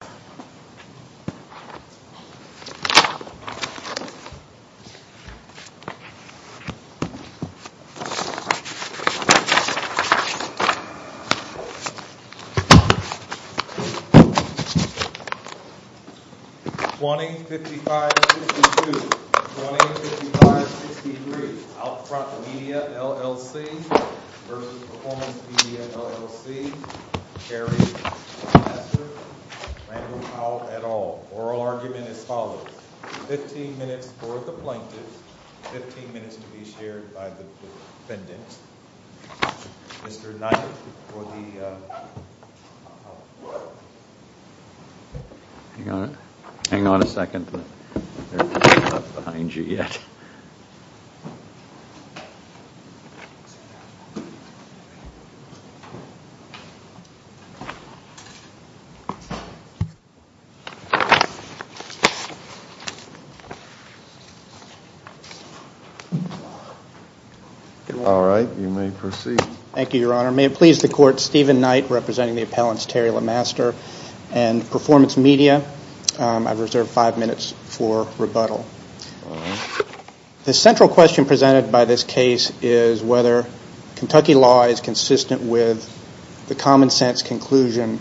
20-5562, 20-5563, Outfront Media LLC v. Performance Media LLC, Terry McMaster, Randall Powell, Randall Powell et al. Oral argument is as follows. 15 minutes for the plaintiff, 15 minutes to be shared by the defendant. Mr. Knight for the plaintiff. Hang on a second, they're not behind you yet. All right, you may proceed. Thank you, Your Honor. May it please the Court, Stephen Knight representing the appellants Terry McMaster and Performance Media. I've reserved 5 minutes for rebuttal. The central question presented by this case is whether Kentucky law is consistent with the common sense conclusion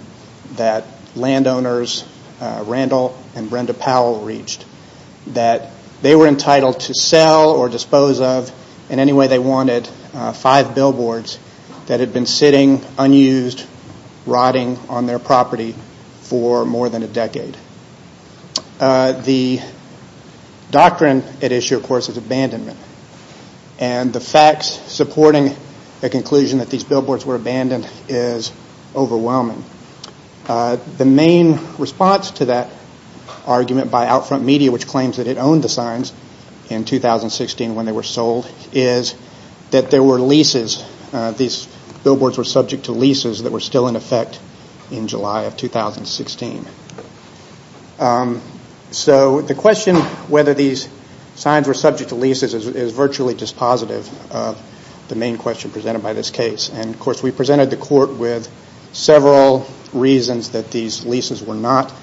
that landowners Randall and Brenda Powell reached. That they were entitled to sell or dispose of in any way they wanted 5 billboards that had been sitting unused, rotting on their property for more than a decade. The doctrine at issue, of course, is abandonment. And the facts supporting the conclusion that these billboards were abandoned is overwhelming. The main response to that argument by Outfront Media, which claims that it owned the signs in 2016 when they were sold, is that there were leases. These billboards were subject to leases that were still in effect in July of 2016. So the question whether these signs were subject to leases is virtually dispositive of the main question presented by this case. And, of course, we presented the Court with several reasons that these leases were not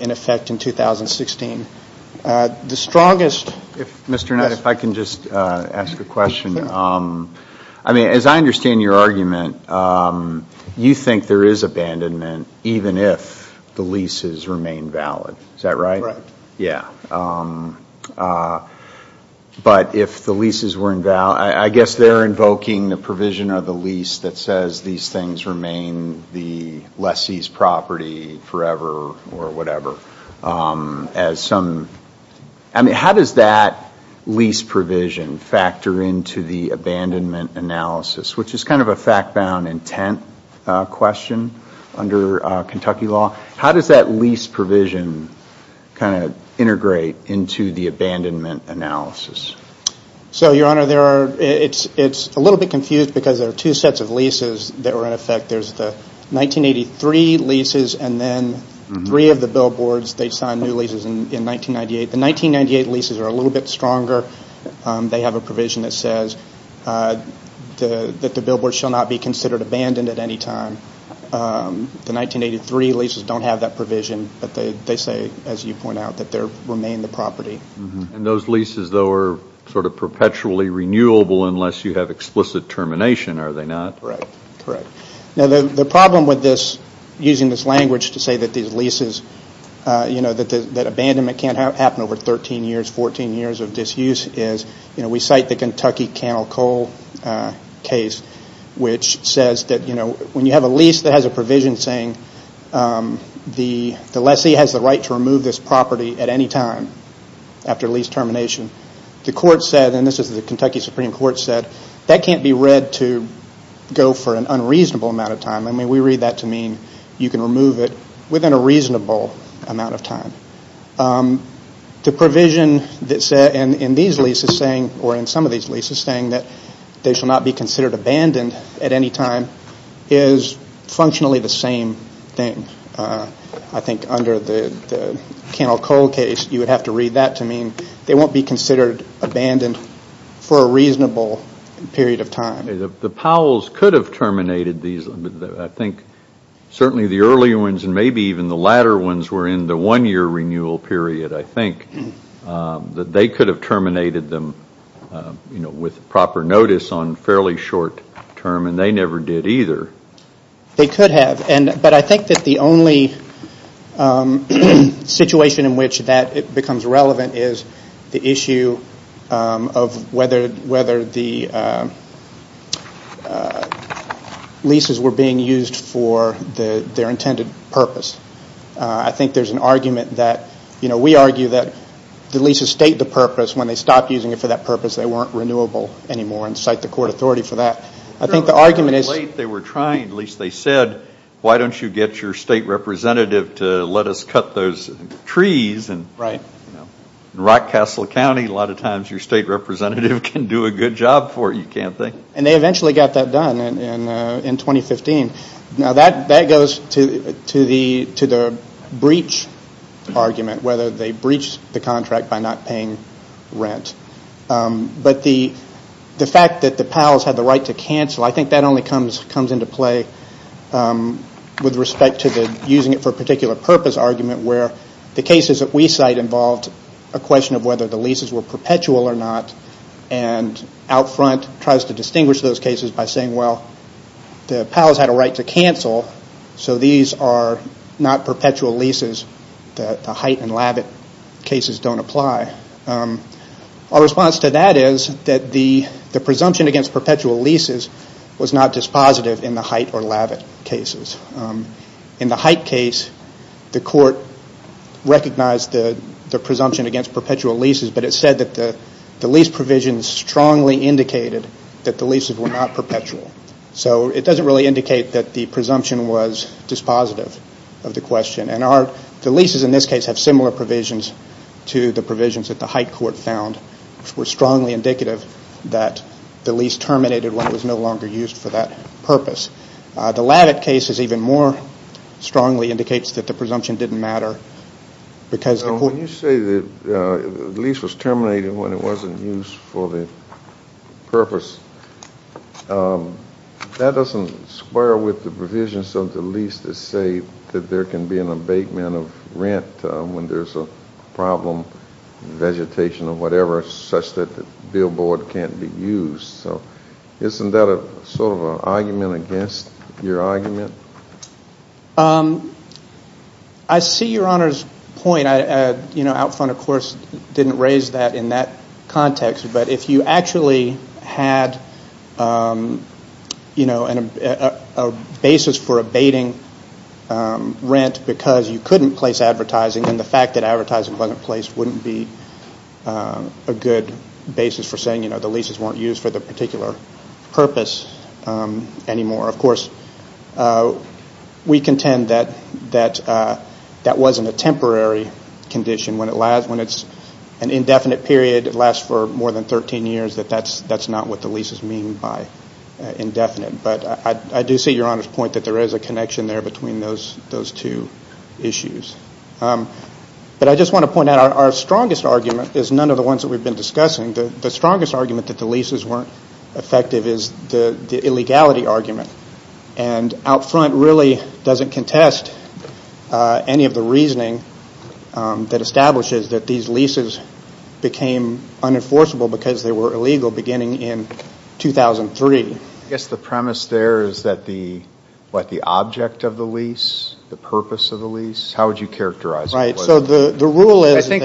in effect in 2016. The strongest... Mr. Knight, if I can just ask a question. Sure. I mean, as I understand your argument, you think there is abandonment even if the leases remain valid. Is that right? Right. Yeah. But if the leases were invalid... I guess they're invoking the provision of the lease that says these things remain the lessee's property forever or whatever as some... I mean, how does that lease provision factor into the abandonment analysis, which is kind of a fact-bound intent question under Kentucky law? How does that lease provision kind of integrate into the abandonment analysis? So, Your Honor, it's a little bit confused because there are two sets of leases that were in effect. There's the 1983 leases and then three of the billboards, they signed new leases in 1998. The 1998 leases are a little bit stronger. They have a provision that says that the billboards shall not be considered abandoned at any time. The 1983 leases don't have that provision, but they say, as you point out, that they remain the property. And those leases, though, are sort of perpetually renewable unless you have explicit termination, are they not? Correct. Now, the problem with this, using this language to say that these leases, that abandonment can't happen over 13 years, 14 years of disuse, is, you know, we cite the Kentucky Cannell Coal case, which says that, you know, when you have a lease that has a provision saying the lessee has the right to remove this property at any time after lease termination, the court said, and this is the Kentucky Supreme Court said, that can't be read to go for an unreasonable amount of time. I mean, we read that to mean you can remove it within a reasonable amount of time. The provision in these leases saying, or in some of these leases saying that they shall not be considered abandoned at any time, is functionally the same thing. I think under the Cannell Coal case, you would have to read that to mean they won't be considered abandoned for a reasonable period of time. The Powells could have terminated these. I think certainly the earlier ones and maybe even the latter ones were in the one-year renewal period, I think, that they could have terminated them, you know, with proper notice on fairly short term, and they never did either. They could have. But I think that the only situation in which that becomes relevant is the issue of whether the leases were being used for their intended purpose. I think there's an argument that, you know, we argue that the leases state the purpose. When they stopped using it for that purpose, they weren't renewable anymore, and cite the court authority for that. They were trying, at least they said, why don't you get your state representative to let us cut those trees. In Rockcastle County, a lot of times your state representative can do a good job for you, can't they? And they eventually got that done in 2015. Now that goes to the breach argument, whether they breached the contract by not paying rent. But the fact that the Powell's had the right to cancel, I think that only comes into play with respect to using it for a particular purpose argument, where the cases that we cite involved a question of whether the leases were perpetual or not, and out front tries to distinguish those cases by saying, well, the Powell's had a right to cancel, so these are not perpetual leases, the Height and Lavitt cases don't apply. Our response to that is that the presumption against perpetual leases was not dispositive in the Height or Lavitt cases. In the Height case, the court recognized the presumption against perpetual leases, but it said that the lease provisions strongly indicated that the leases were not perpetual. So it doesn't really indicate that the presumption was dispositive of the question. And the leases in this case have similar provisions to the provisions that the Height court found, which were strongly indicative that the lease terminated when it was no longer used for that purpose. The Lavitt case is even more strongly indicates that the presumption didn't matter because the court- That doesn't square with the provisions of the lease to say that there can be an abatement of rent when there's a problem, vegetation or whatever, such that the billboard can't be used. So isn't that sort of an argument against your argument? I see Your Honor's point. Out front, of course, didn't raise that in that context, but if you actually had a basis for abating rent because you couldn't place advertising and the fact that advertising wasn't placed wouldn't be a good basis for saying the leases weren't used for that particular purpose anymore. Of course, we contend that that wasn't a temporary condition. When it's an indefinite period, it lasts for more than 13 years, that that's not what the leases mean by indefinite. But I do see Your Honor's point that there is a connection there between those two issues. But I just want to point out our strongest argument is none of the ones that we've been discussing. The strongest argument that the leases weren't effective is the illegality argument. And out front really doesn't contest any of the reasoning that establishes that these leases became unenforceable because they were illegal beginning in 2003. I guess the premise there is that the object of the lease, the purpose of the lease, how would you characterize it? I think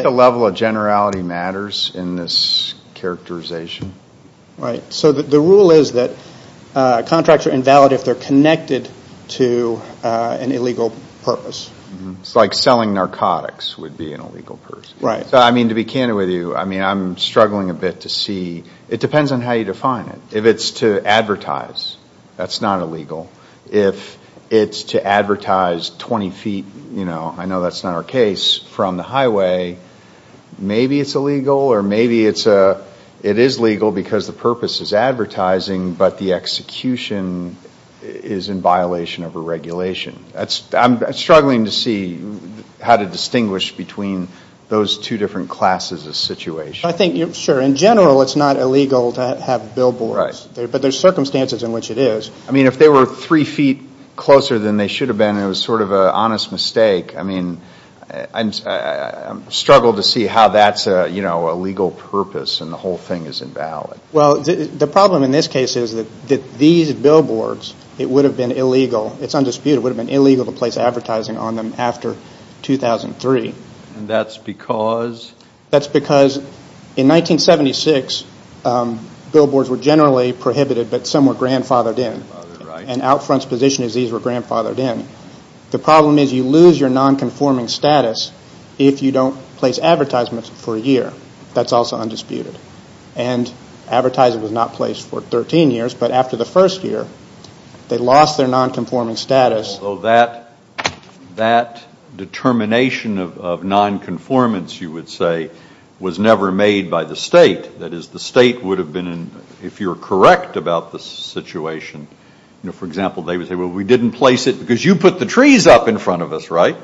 the level of generality matters in this characterization. The rule is that contracts are invalid if they're connected to an illegal purpose. It's like selling narcotics would be an illegal purpose. To be candid with you, I'm struggling a bit to see. It depends on how you define it. If it's to advertise, that's not illegal. If it's to advertise 20 feet, I know that's not our case, from the highway, maybe it's illegal. Or maybe it is legal because the purpose is advertising, but the execution is in violation of a regulation. I'm struggling to see how to distinguish between those two different classes of situation. I think, sure, in general it's not illegal to have billboards. But there's circumstances in which it is. If they were three feet closer than they should have been and it was sort of an honest mistake, I'm struggling to see how that's a legal purpose and the whole thing is invalid. The problem in this case is that these billboards, it would have been illegal, it's undisputed, it would have been illegal to place advertising on them after 2003. That's because? That's because in 1976, billboards were generally prohibited, but some were grandfathered in. And Outfront's position is these were grandfathered in. The problem is you lose your nonconforming status if you don't place advertisements for a year. That's also undisputed. And advertising was not placed for 13 years, but after the first year, they lost their nonconforming status. So that determination of nonconformance, you would say, was never made by the state. That is, the state would have been, if you're correct about the situation, for example, they would say, well, we didn't place it because you put the trees up in front of us, right?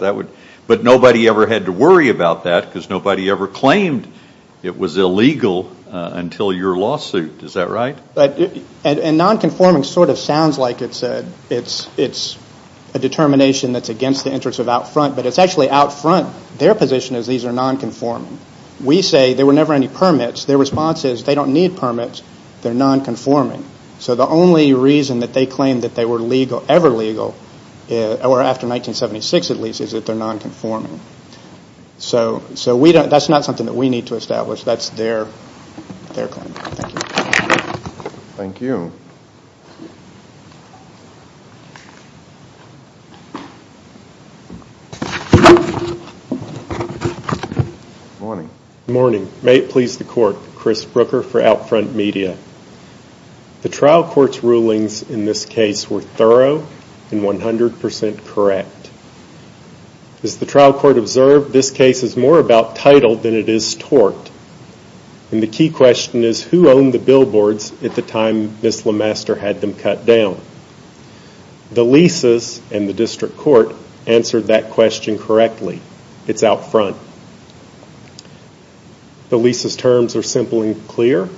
But nobody ever had to worry about that because nobody ever claimed it was illegal until your lawsuit. Is that right? And nonconforming sort of sounds like it's a determination that's against the interests of Outfront, but it's actually Outfront, their position is these are nonconforming. We say there were never any permits. Their response is they don't need permits. They're nonconforming. So the only reason that they claim that they were ever legal, or after 1976 at least, is that they're nonconforming. So that's not something that we need to establish. That's their claim. Thank you. Good morning. Good morning. May it please the Court, Chris Brooker for Outfront Media. The trial court's rulings in this case were thorough and 100% correct. As the trial court observed, this case is more about title than it is tort. And the key question is who owned the billboards at the time Ms. LeMaster had them cut down? The leases and the district court answered that question correctly. It's Outfront. The leases' terms are simple and clear.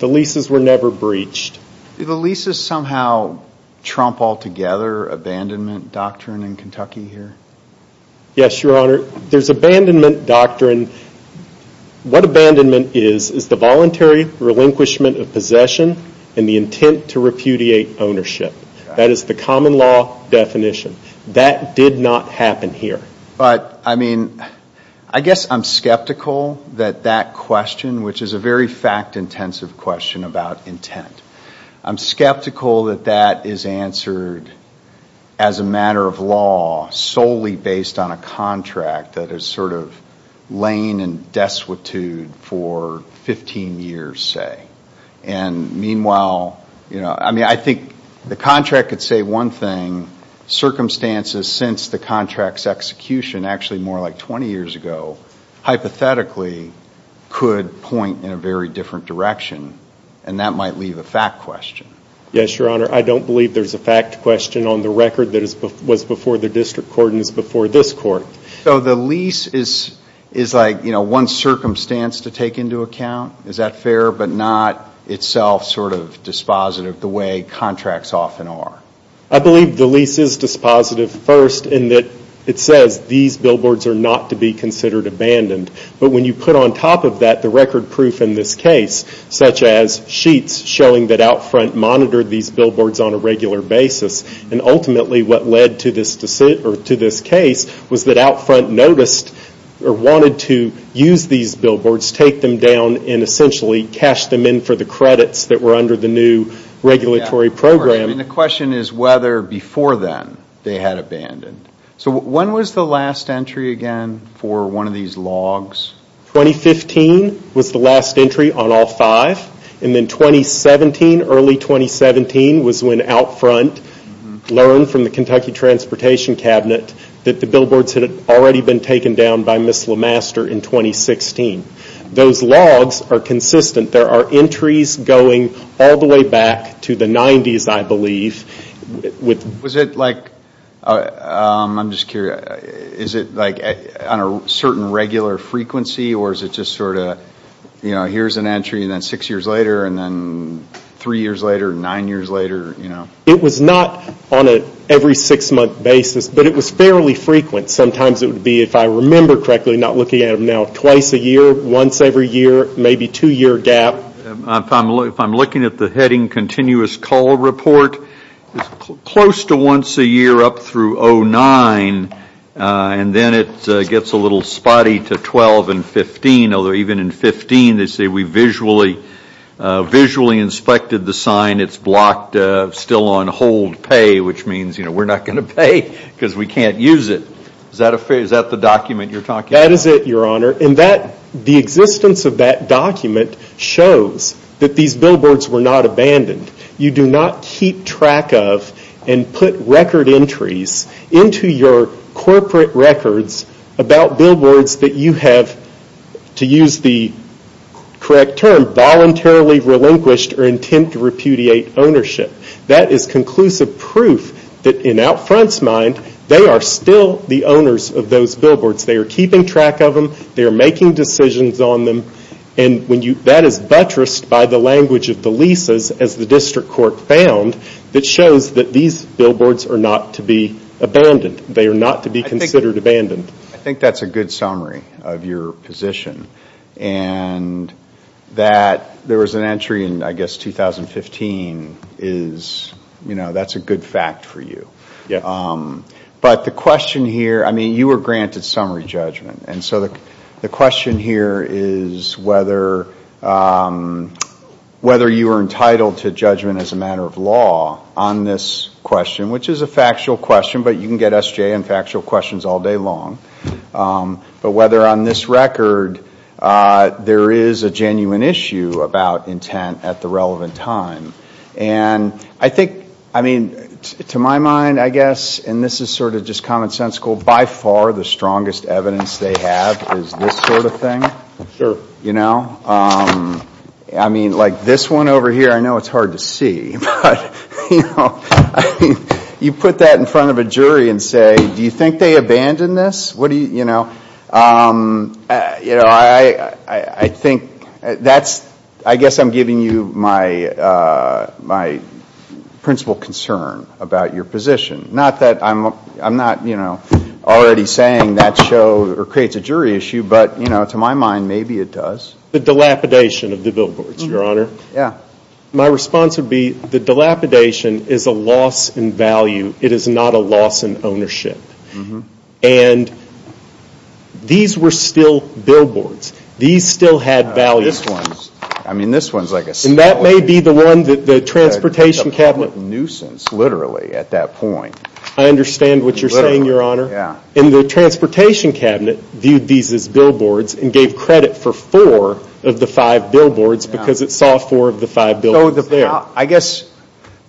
The leases were never breached. Do the leases somehow trump altogether abandonment doctrine in Kentucky here? Yes, Your Honor. There's abandonment doctrine. What abandonment is is the voluntary relinquishment of possession and the intent to repudiate ownership. That is the common law definition. That did not happen here. But, I mean, I guess I'm skeptical that that question, which is a very fact-intensive question about intent, I'm skeptical that that is answered as a matter of law solely based on a contract that has sort of lain in destitute for 15 years, say. And meanwhile, you know, I mean, I think the contract could say one thing. Circumstances since the contract's execution, actually more like 20 years ago, hypothetically could point in a very different direction, and that might leave a fact question. Yes, Your Honor. I don't believe there's a fact question on the record that was before the district court and is before this court. So the lease is like, you know, one circumstance to take into account? Is that fair, but not itself sort of dispositive the way contracts often are? I believe the lease is dispositive first in that it says these billboards are not to be considered abandoned. But when you put on top of that the record proof in this case, such as sheets showing that Outfront monitored these billboards on a regular basis, and ultimately what led to this case was that Outfront noticed or wanted to use these billboards, take them down, and essentially cash them in for the credits that were under the new regulatory program. And the question is whether before then they had abandoned. So when was the last entry again for one of these logs? 2015 was the last entry on all five. And then 2017, early 2017, was when Outfront learned from the Kentucky Transportation Cabinet that the billboards had already been taken down by Ms. LeMaster in 2016. Those logs are consistent. There are entries going all the way back to the 90s, I believe. Was it like, I'm just curious, is it like on a certain regular frequency, or is it just sort of, you know, here's an entry and then six years later, and then three years later, nine years later, you know? It was not on an every six month basis, but it was fairly frequent. But sometimes it would be, if I remember correctly, not looking at them now, twice a year, once every year, maybe two year gap. If I'm looking at the Heading Continuous Call Report, it's close to once a year up through 09, and then it gets a little spotty to 12 and 15, although even in 15 they say we visually inspected the sign, and it's blocked still on hold pay, which means we're not going to pay because we can't use it. Is that the document you're talking about? That is it, Your Honor. And the existence of that document shows that these billboards were not abandoned. You do not keep track of and put record entries into your corporate records about billboards that you have, to use the correct term, voluntarily relinquished or intent to repudiate ownership. That is conclusive proof that in Outfront's mind, they are still the owners of those billboards. They are keeping track of them, they are making decisions on them, and that is buttressed by the language of the leases as the District Court found that shows that these billboards are not to be abandoned. They are not to be considered abandoned. I think that's a good summary of your position. And that there was an entry in, I guess, 2015 is, you know, that's a good fact for you. But the question here, I mean, you were granted summary judgment, and so the question here is whether you were entitled to judgment as a matter of law on this question, which is a factual question, but you can get S.J. on factual questions all day long. But whether on this record there is a genuine issue about intent at the relevant time. And I think, I mean, to my mind, I guess, and this is sort of just commonsensical, by far the strongest evidence they have is this sort of thing. You know, I mean, like this one over here, I know it's hard to see, but you put that in front of a jury and say, do you think they abandoned this? You know, I think that's, I guess I'm giving you my principal concern about your position. Not that I'm not already saying that creates a jury issue, but, you know, to my mind, maybe it does. The dilapidation of the billboards, Your Honor. Yeah. My response would be the dilapidation is a loss in value. It is not a loss in ownership. And these were still billboards. These still had values. I mean, this one's like a small. And that may be the one that the transportation cabinet. A public nuisance, literally, at that point. I understand what you're saying, Your Honor. And the transportation cabinet viewed these as billboards and gave credit for four of the five billboards because it saw four of the five billboards there. I guess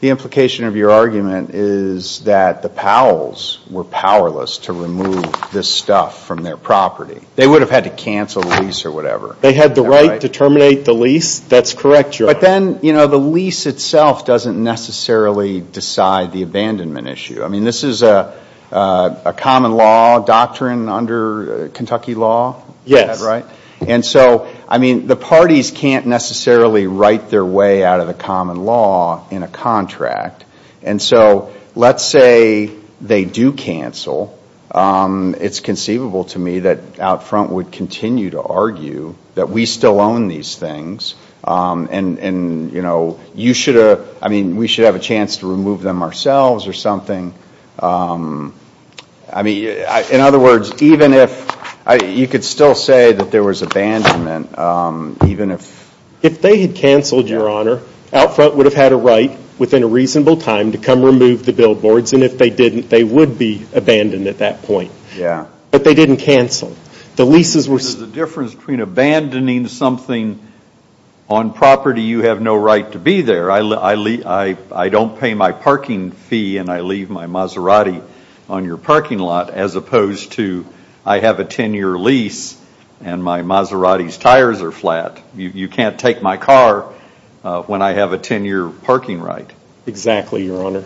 the implication of your argument is that the Powells were powerless to remove this stuff from their property. They would have had to cancel the lease or whatever. They had the right to terminate the lease. That's correct, Your Honor. But then, you know, the lease itself doesn't necessarily decide the abandonment issue. I mean, this is a common law doctrine under Kentucky law. Yes. Right? And so, I mean, the parties can't necessarily write their way out of the common law in a contract. And so let's say they do cancel. It's conceivable to me that out front would continue to argue that we still own these things. And, you know, you should have, I mean, we should have a chance to remove them ourselves or something. I mean, in other words, even if, you could still say that there was abandonment, even if. If they had canceled, Your Honor, out front would have had a right within a reasonable time to come remove the billboards. And if they didn't, they would be abandoned at that point. Yeah. But they didn't cancel. There's a difference between abandoning something on property you have no right to be there. I don't pay my parking fee and I leave my Maserati on your parking lot as opposed to I have a 10-year lease and my Maserati's tires are flat. You can't take my car when I have a 10-year parking right. Exactly, Your Honor.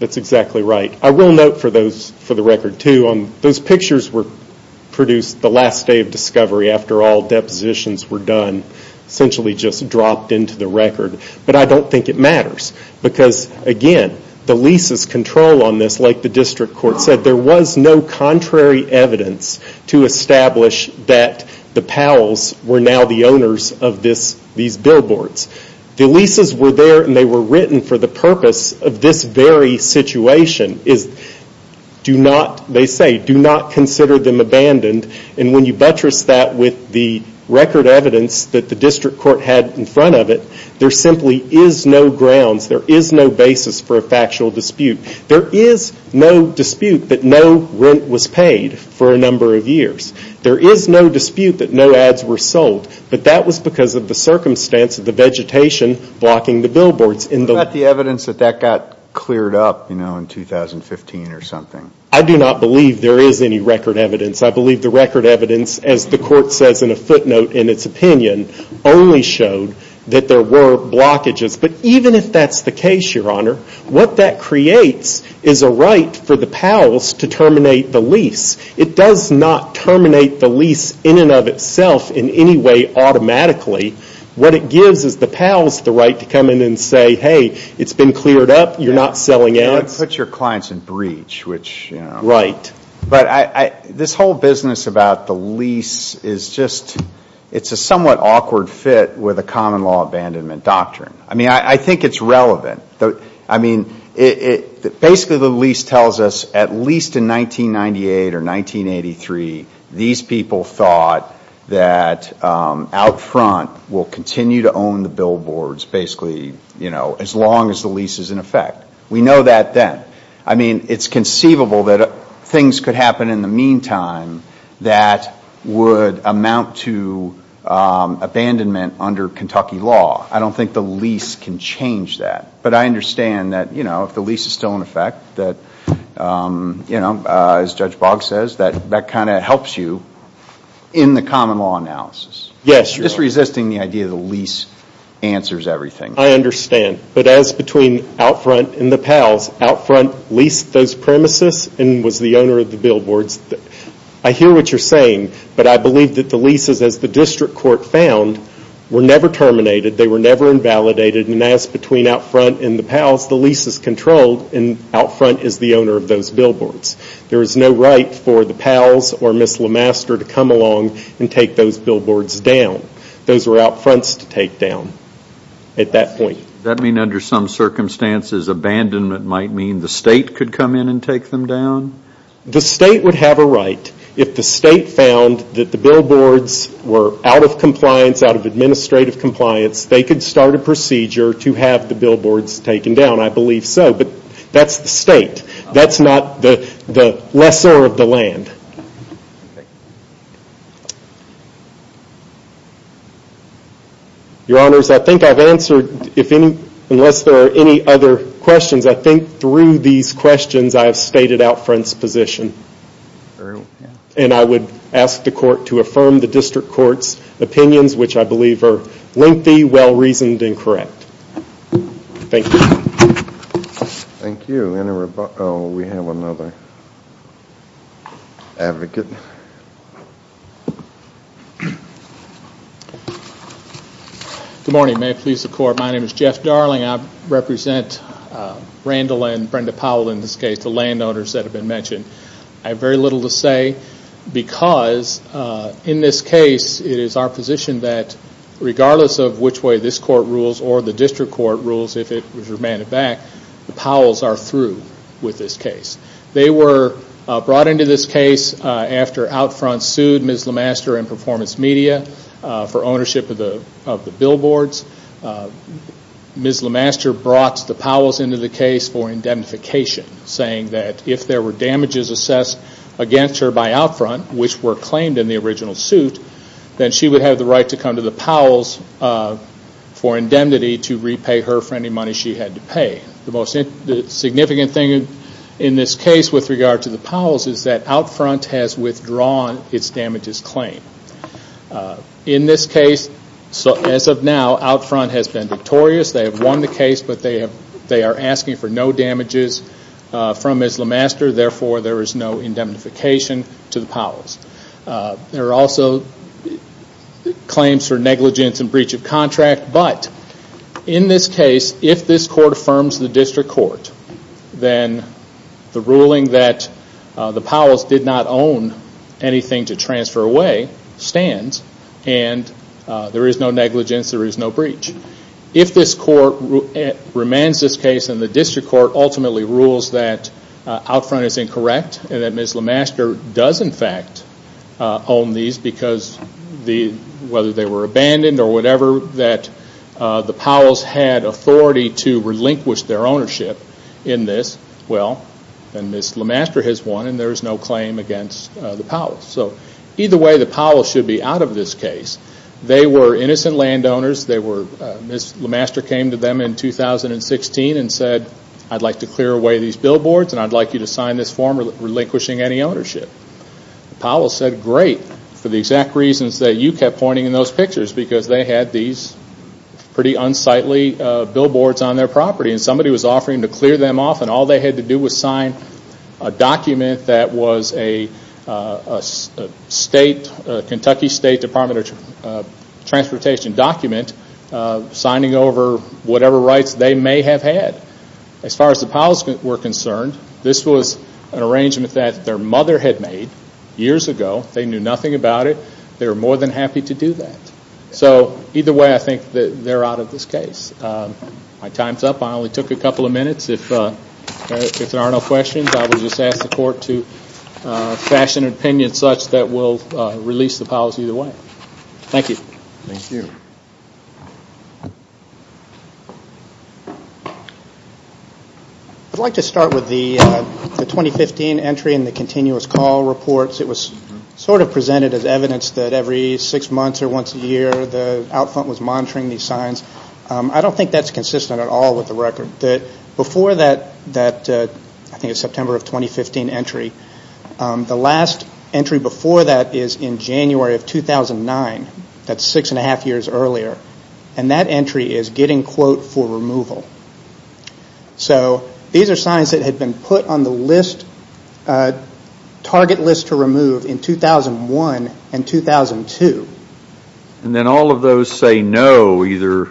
That's exactly right. I will note for the record, too, those pictures were produced the last day of discovery. After all, depositions were done, essentially just dropped into the record. But I don't think it matters because, again, the leases control on this, like the district court said, there was no contrary evidence to establish that the Powells were now the owners of these billboards. The leases were there and they were written for the purpose of this very situation. They say, do not consider them abandoned. And when you buttress that with the record evidence that the district court had in front of it, there simply is no grounds, there is no basis for a factual dispute. There is no dispute that no rent was paid for a number of years. There is no dispute that no ads were sold. But that was because of the circumstance of the vegetation blocking the billboards. What about the evidence that that got cleared up, you know, in 2015 or something? I do not believe there is any record evidence. I believe the record evidence, as the court says in a footnote in its opinion, only showed that there were blockages. But even if that's the case, Your Honor, what that creates is a right for the Powells to terminate the lease. It does not terminate the lease in and of itself in any way automatically. What it gives is the Powells the right to come in and say, hey, it's been cleared up, you're not selling ads. You know, it puts your clients in breach, which, you know. Right. But this whole business about the lease is just, it's a somewhat awkward fit with a common law abandonment doctrine. I mean, I think it's relevant. I mean, basically the lease tells us at least in 1998 or 1983, these people thought that out front will continue to own the billboards basically, you know, as long as the lease is in effect. We know that then. I mean, it's conceivable that things could happen in the meantime that would amount to abandonment under Kentucky law. I don't think the lease can change that. But I understand that, you know, if the lease is still in effect, that, you know, as Judge Boggs says, that kind of helps you in the common law analysis. Yes, Your Honor. Just resisting the idea that the lease answers everything. I understand. But as between out front and the Powells, out front leased those premises and was the owner of the billboards. I hear what you're saying, but I believe that the leases, as the district court found, were never terminated. They were never invalidated. And as between out front and the Powells, the lease is controlled and out front is the owner of those billboards. There is no right for the Powells or Ms. LeMaster to come along and take those billboards down. Those were out fronts to take down at that point. Does that mean under some circumstances abandonment might mean the state could come in and take them down? The state would have a right. If the state found that the billboards were out of compliance, out of administrative compliance, they could start a procedure to have the billboards taken down. I believe so. But that's the state. That's not the lesser of the land. Your Honors, I think I've answered, unless there are any other questions, I think through these questions I have stated out front's position. And I would ask the court to affirm the district court's opinions, which I believe are lengthy, well-reasoned, and correct. Thank you. Thank you. We have another advocate. Good morning. May it please the Court. My name is Jeff Darling. I represent Randall and Brenda Powell in this case, the landowners that have been mentioned. I have very little to say because in this case it is our position that regardless of which way this court rules or the district court rules, if it was remanded back, the Powells are through with this case. They were brought into this case after out front sued Ms. LeMaster and Performance Media for ownership of the billboards. Ms. LeMaster brought the Powells into the case for indemnification, saying that if there were damages assessed against her by out front, which were claimed in the original suit, then she would have the right to come to the Powells for indemnity to repay her for any money she had to pay. The most significant thing in this case with regard to the Powells is that out front has withdrawn its damages claim. In this case, as of now, out front has been victorious. They have won the case, but they are asking for no damages from Ms. LeMaster, therefore there is no indemnification to the Powells. There are also claims for negligence and breach of contract, but in this case, if this court affirms the district court, then the ruling that the Powells did not own anything to transfer away stands and there is no negligence, there is no breach. If this court remands this case and the district court ultimately rules that out front is incorrect and that Ms. LeMaster does in fact own these because whether they were abandoned or whatever, that the Powells had authority to relinquish their ownership in this, then Ms. LeMaster has won and there is no claim against the Powells. Either way, the Powells should be out of this case. They were innocent landowners. Ms. LeMaster came to them in 2016 and said, I'd like to clear away these billboards and I'd like you to sign this form relinquishing any ownership. The Powells said, great, for the exact reasons that you kept pointing in those pictures, because they had these pretty unsightly billboards on their property and somebody was offering to clear them off and all they had to do was sign a document that was a Kentucky State Department of Transportation document, signing over whatever rights they may have had. As far as the Powells were concerned, this was an arrangement that their mother had made years ago. They knew nothing about it. They were more than happy to do that. Either way, I think they're out of this case. My time's up. I only took a couple of minutes. If there are no questions, I will just ask the court to fashion an opinion such that we'll release the Powells either way. Thank you. Thank you. I'd like to start with the 2015 entry in the continuous call reports. It was sort of presented as evidence that every six months or once a year, the out front was monitoring these signs. I don't think that's consistent at all with the record. Before that September of 2015 entry, the last entry before that is in January of 2009. That's six and a half years earlier. That entry is getting quote for removal. These are signs that had been put on the list, target list to remove in 2001 and 2002. Then all of those say no. Either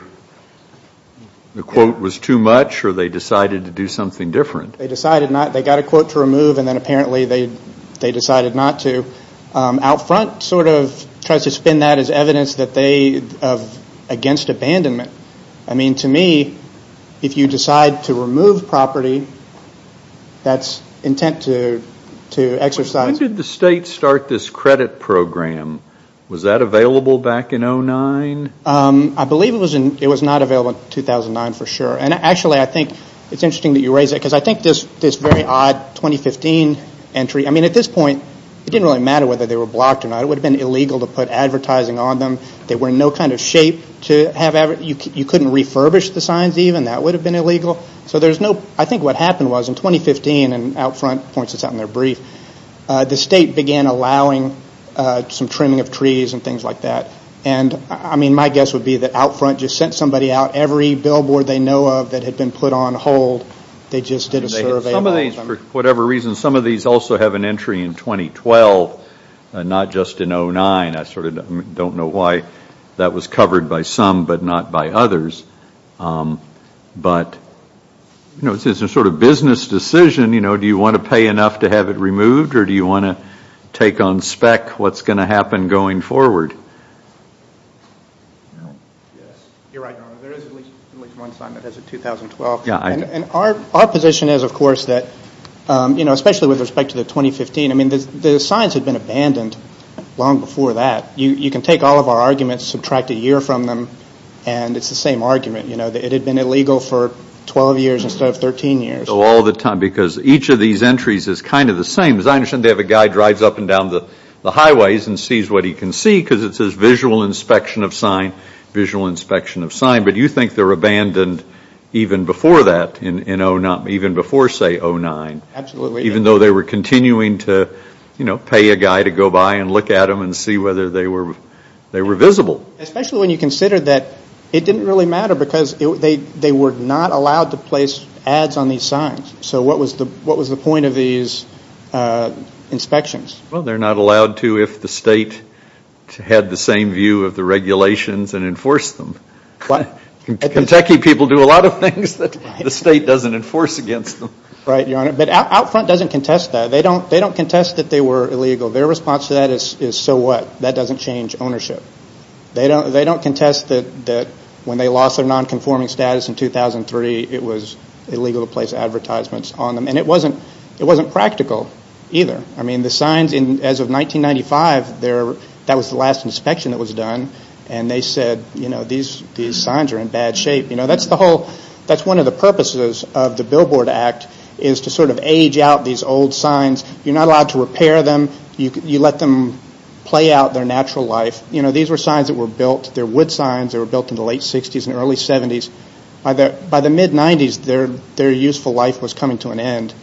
the quote was too much or they decided to do something different. They decided not. They got a quote to remove and then apparently they decided not to. Out front sort of tries to spin that as evidence against abandonment. To me, if you decide to remove property, that's intent to exercise. When did the state start this credit program? Was that available back in 2009? I believe it was not available in 2009 for sure. Actually, I think it's interesting that you raise that because I think this very odd 2015 entry, at this point it didn't really matter whether they were blocked or not. It would have been illegal to put advertising on them. They were in no kind of shape to have advertising. You couldn't refurbish the signs even. That would have been illegal. I think what happened was in 2015, and out front points this out in their brief, the state began allowing some trimming of trees and things like that. My guess would be that out front just sent somebody out every billboard they know of that had been put on hold. They just did a survey. Some of these, for whatever reason, some of these also have an entry in 2012, not just in 2009. I sort of don't know why that was covered by some but not by others. But it's a sort of business decision. Do you want to pay enough to have it removed or do you want to take on spec what's going to happen going forward? Yes, you're right. There is at least one sign that has a 2012. Our position is, of course, that especially with respect to the 2015, the signs had been abandoned long before that. You can take all of our arguments, subtract a year from them, and it's the same argument. It had been illegal for 12 years instead of 13 years. All the time because each of these entries is kind of the same. As I understand, they have a guy who drives up and down the highways and sees what he can see because it says visual inspection of sign, visual inspection of sign. But do you think they were abandoned even before that, even before, say, 2009? Absolutely. Even though they were continuing to pay a guy to go by and look at them and see whether they were visible. Especially when you consider that it didn't really matter because they were not allowed to place ads on these signs. So what was the point of these inspections? Well, they're not allowed to if the state had the same view of the regulations and enforced them. Kentucky people do a lot of things that the state doesn't enforce against them. Right, Your Honor. But Out Front doesn't contest that. They don't contest that they were illegal. Their response to that is, so what? That doesn't change ownership. They don't contest that when they lost their nonconforming status in 2003, it was illegal to place advertisements on them. And it wasn't practical either. I mean, the signs, as of 1995, that was the last inspection that was done, and they said, you know, these signs are in bad shape. That's one of the purposes of the Billboard Act is to sort of age out these old signs. You're not allowed to repair them. You let them play out their natural life. These were signs that were built. They're wood signs. They were built in the late 60s and early 70s. By the mid-90s, their useful life was coming to an end.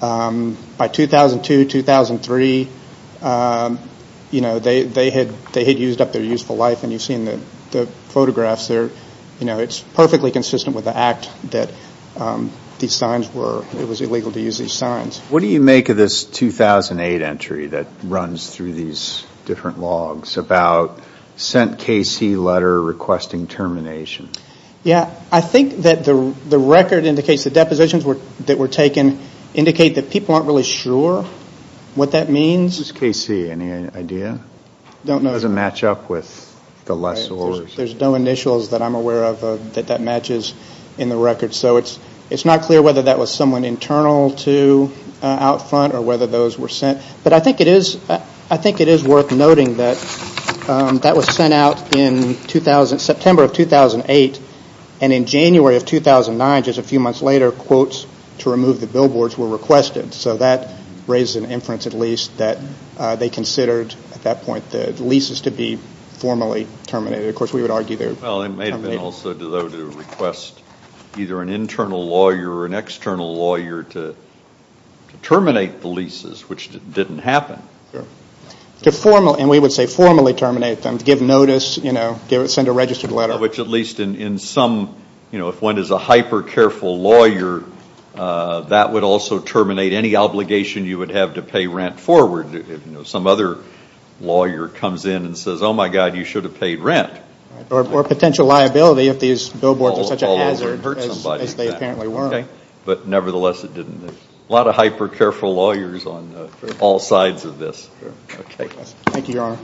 By 2002, 2003, they had used up their useful life, and you've seen the photographs there. It's perfectly consistent with the act that these signs were. It was illegal to use these signs. What do you make of this 2008 entry that runs through these different logs about sent KC letter requesting termination? Yeah, I think that the record indicates the depositions that were taken indicate that people aren't really sure what that means. Who's KC? Any idea? Don't know. It doesn't match up with the lessors. There's no initials that I'm aware of that that matches in the record. So it's not clear whether that was someone internal to Outfront or whether those were sent. But I think it is worth noting that that was sent out in September of 2008, and in January of 2009, just a few months later, quotes to remove the billboards were requested. So that raises an inference at least that they considered at that point the leases to be formally terminated. Of course, we would argue they were terminated. Well, it may have been also though to request either an internal lawyer or an external lawyer to terminate the leases, which didn't happen. And we would say formally terminate them, give notice, send a registered letter. Which at least in some, you know, if one is a hyper-careful lawyer, that would also terminate any obligation you would have to pay rent forward. If some other lawyer comes in and says, oh, my God, you should have paid rent. Or potential liability if these billboards are such a hazard as they apparently were. But nevertheless, it didn't. A lot of hyper-careful lawyers on all sides of this. Thank you, Your Honor.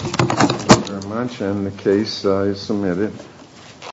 Thank you very much, and the case is submitted.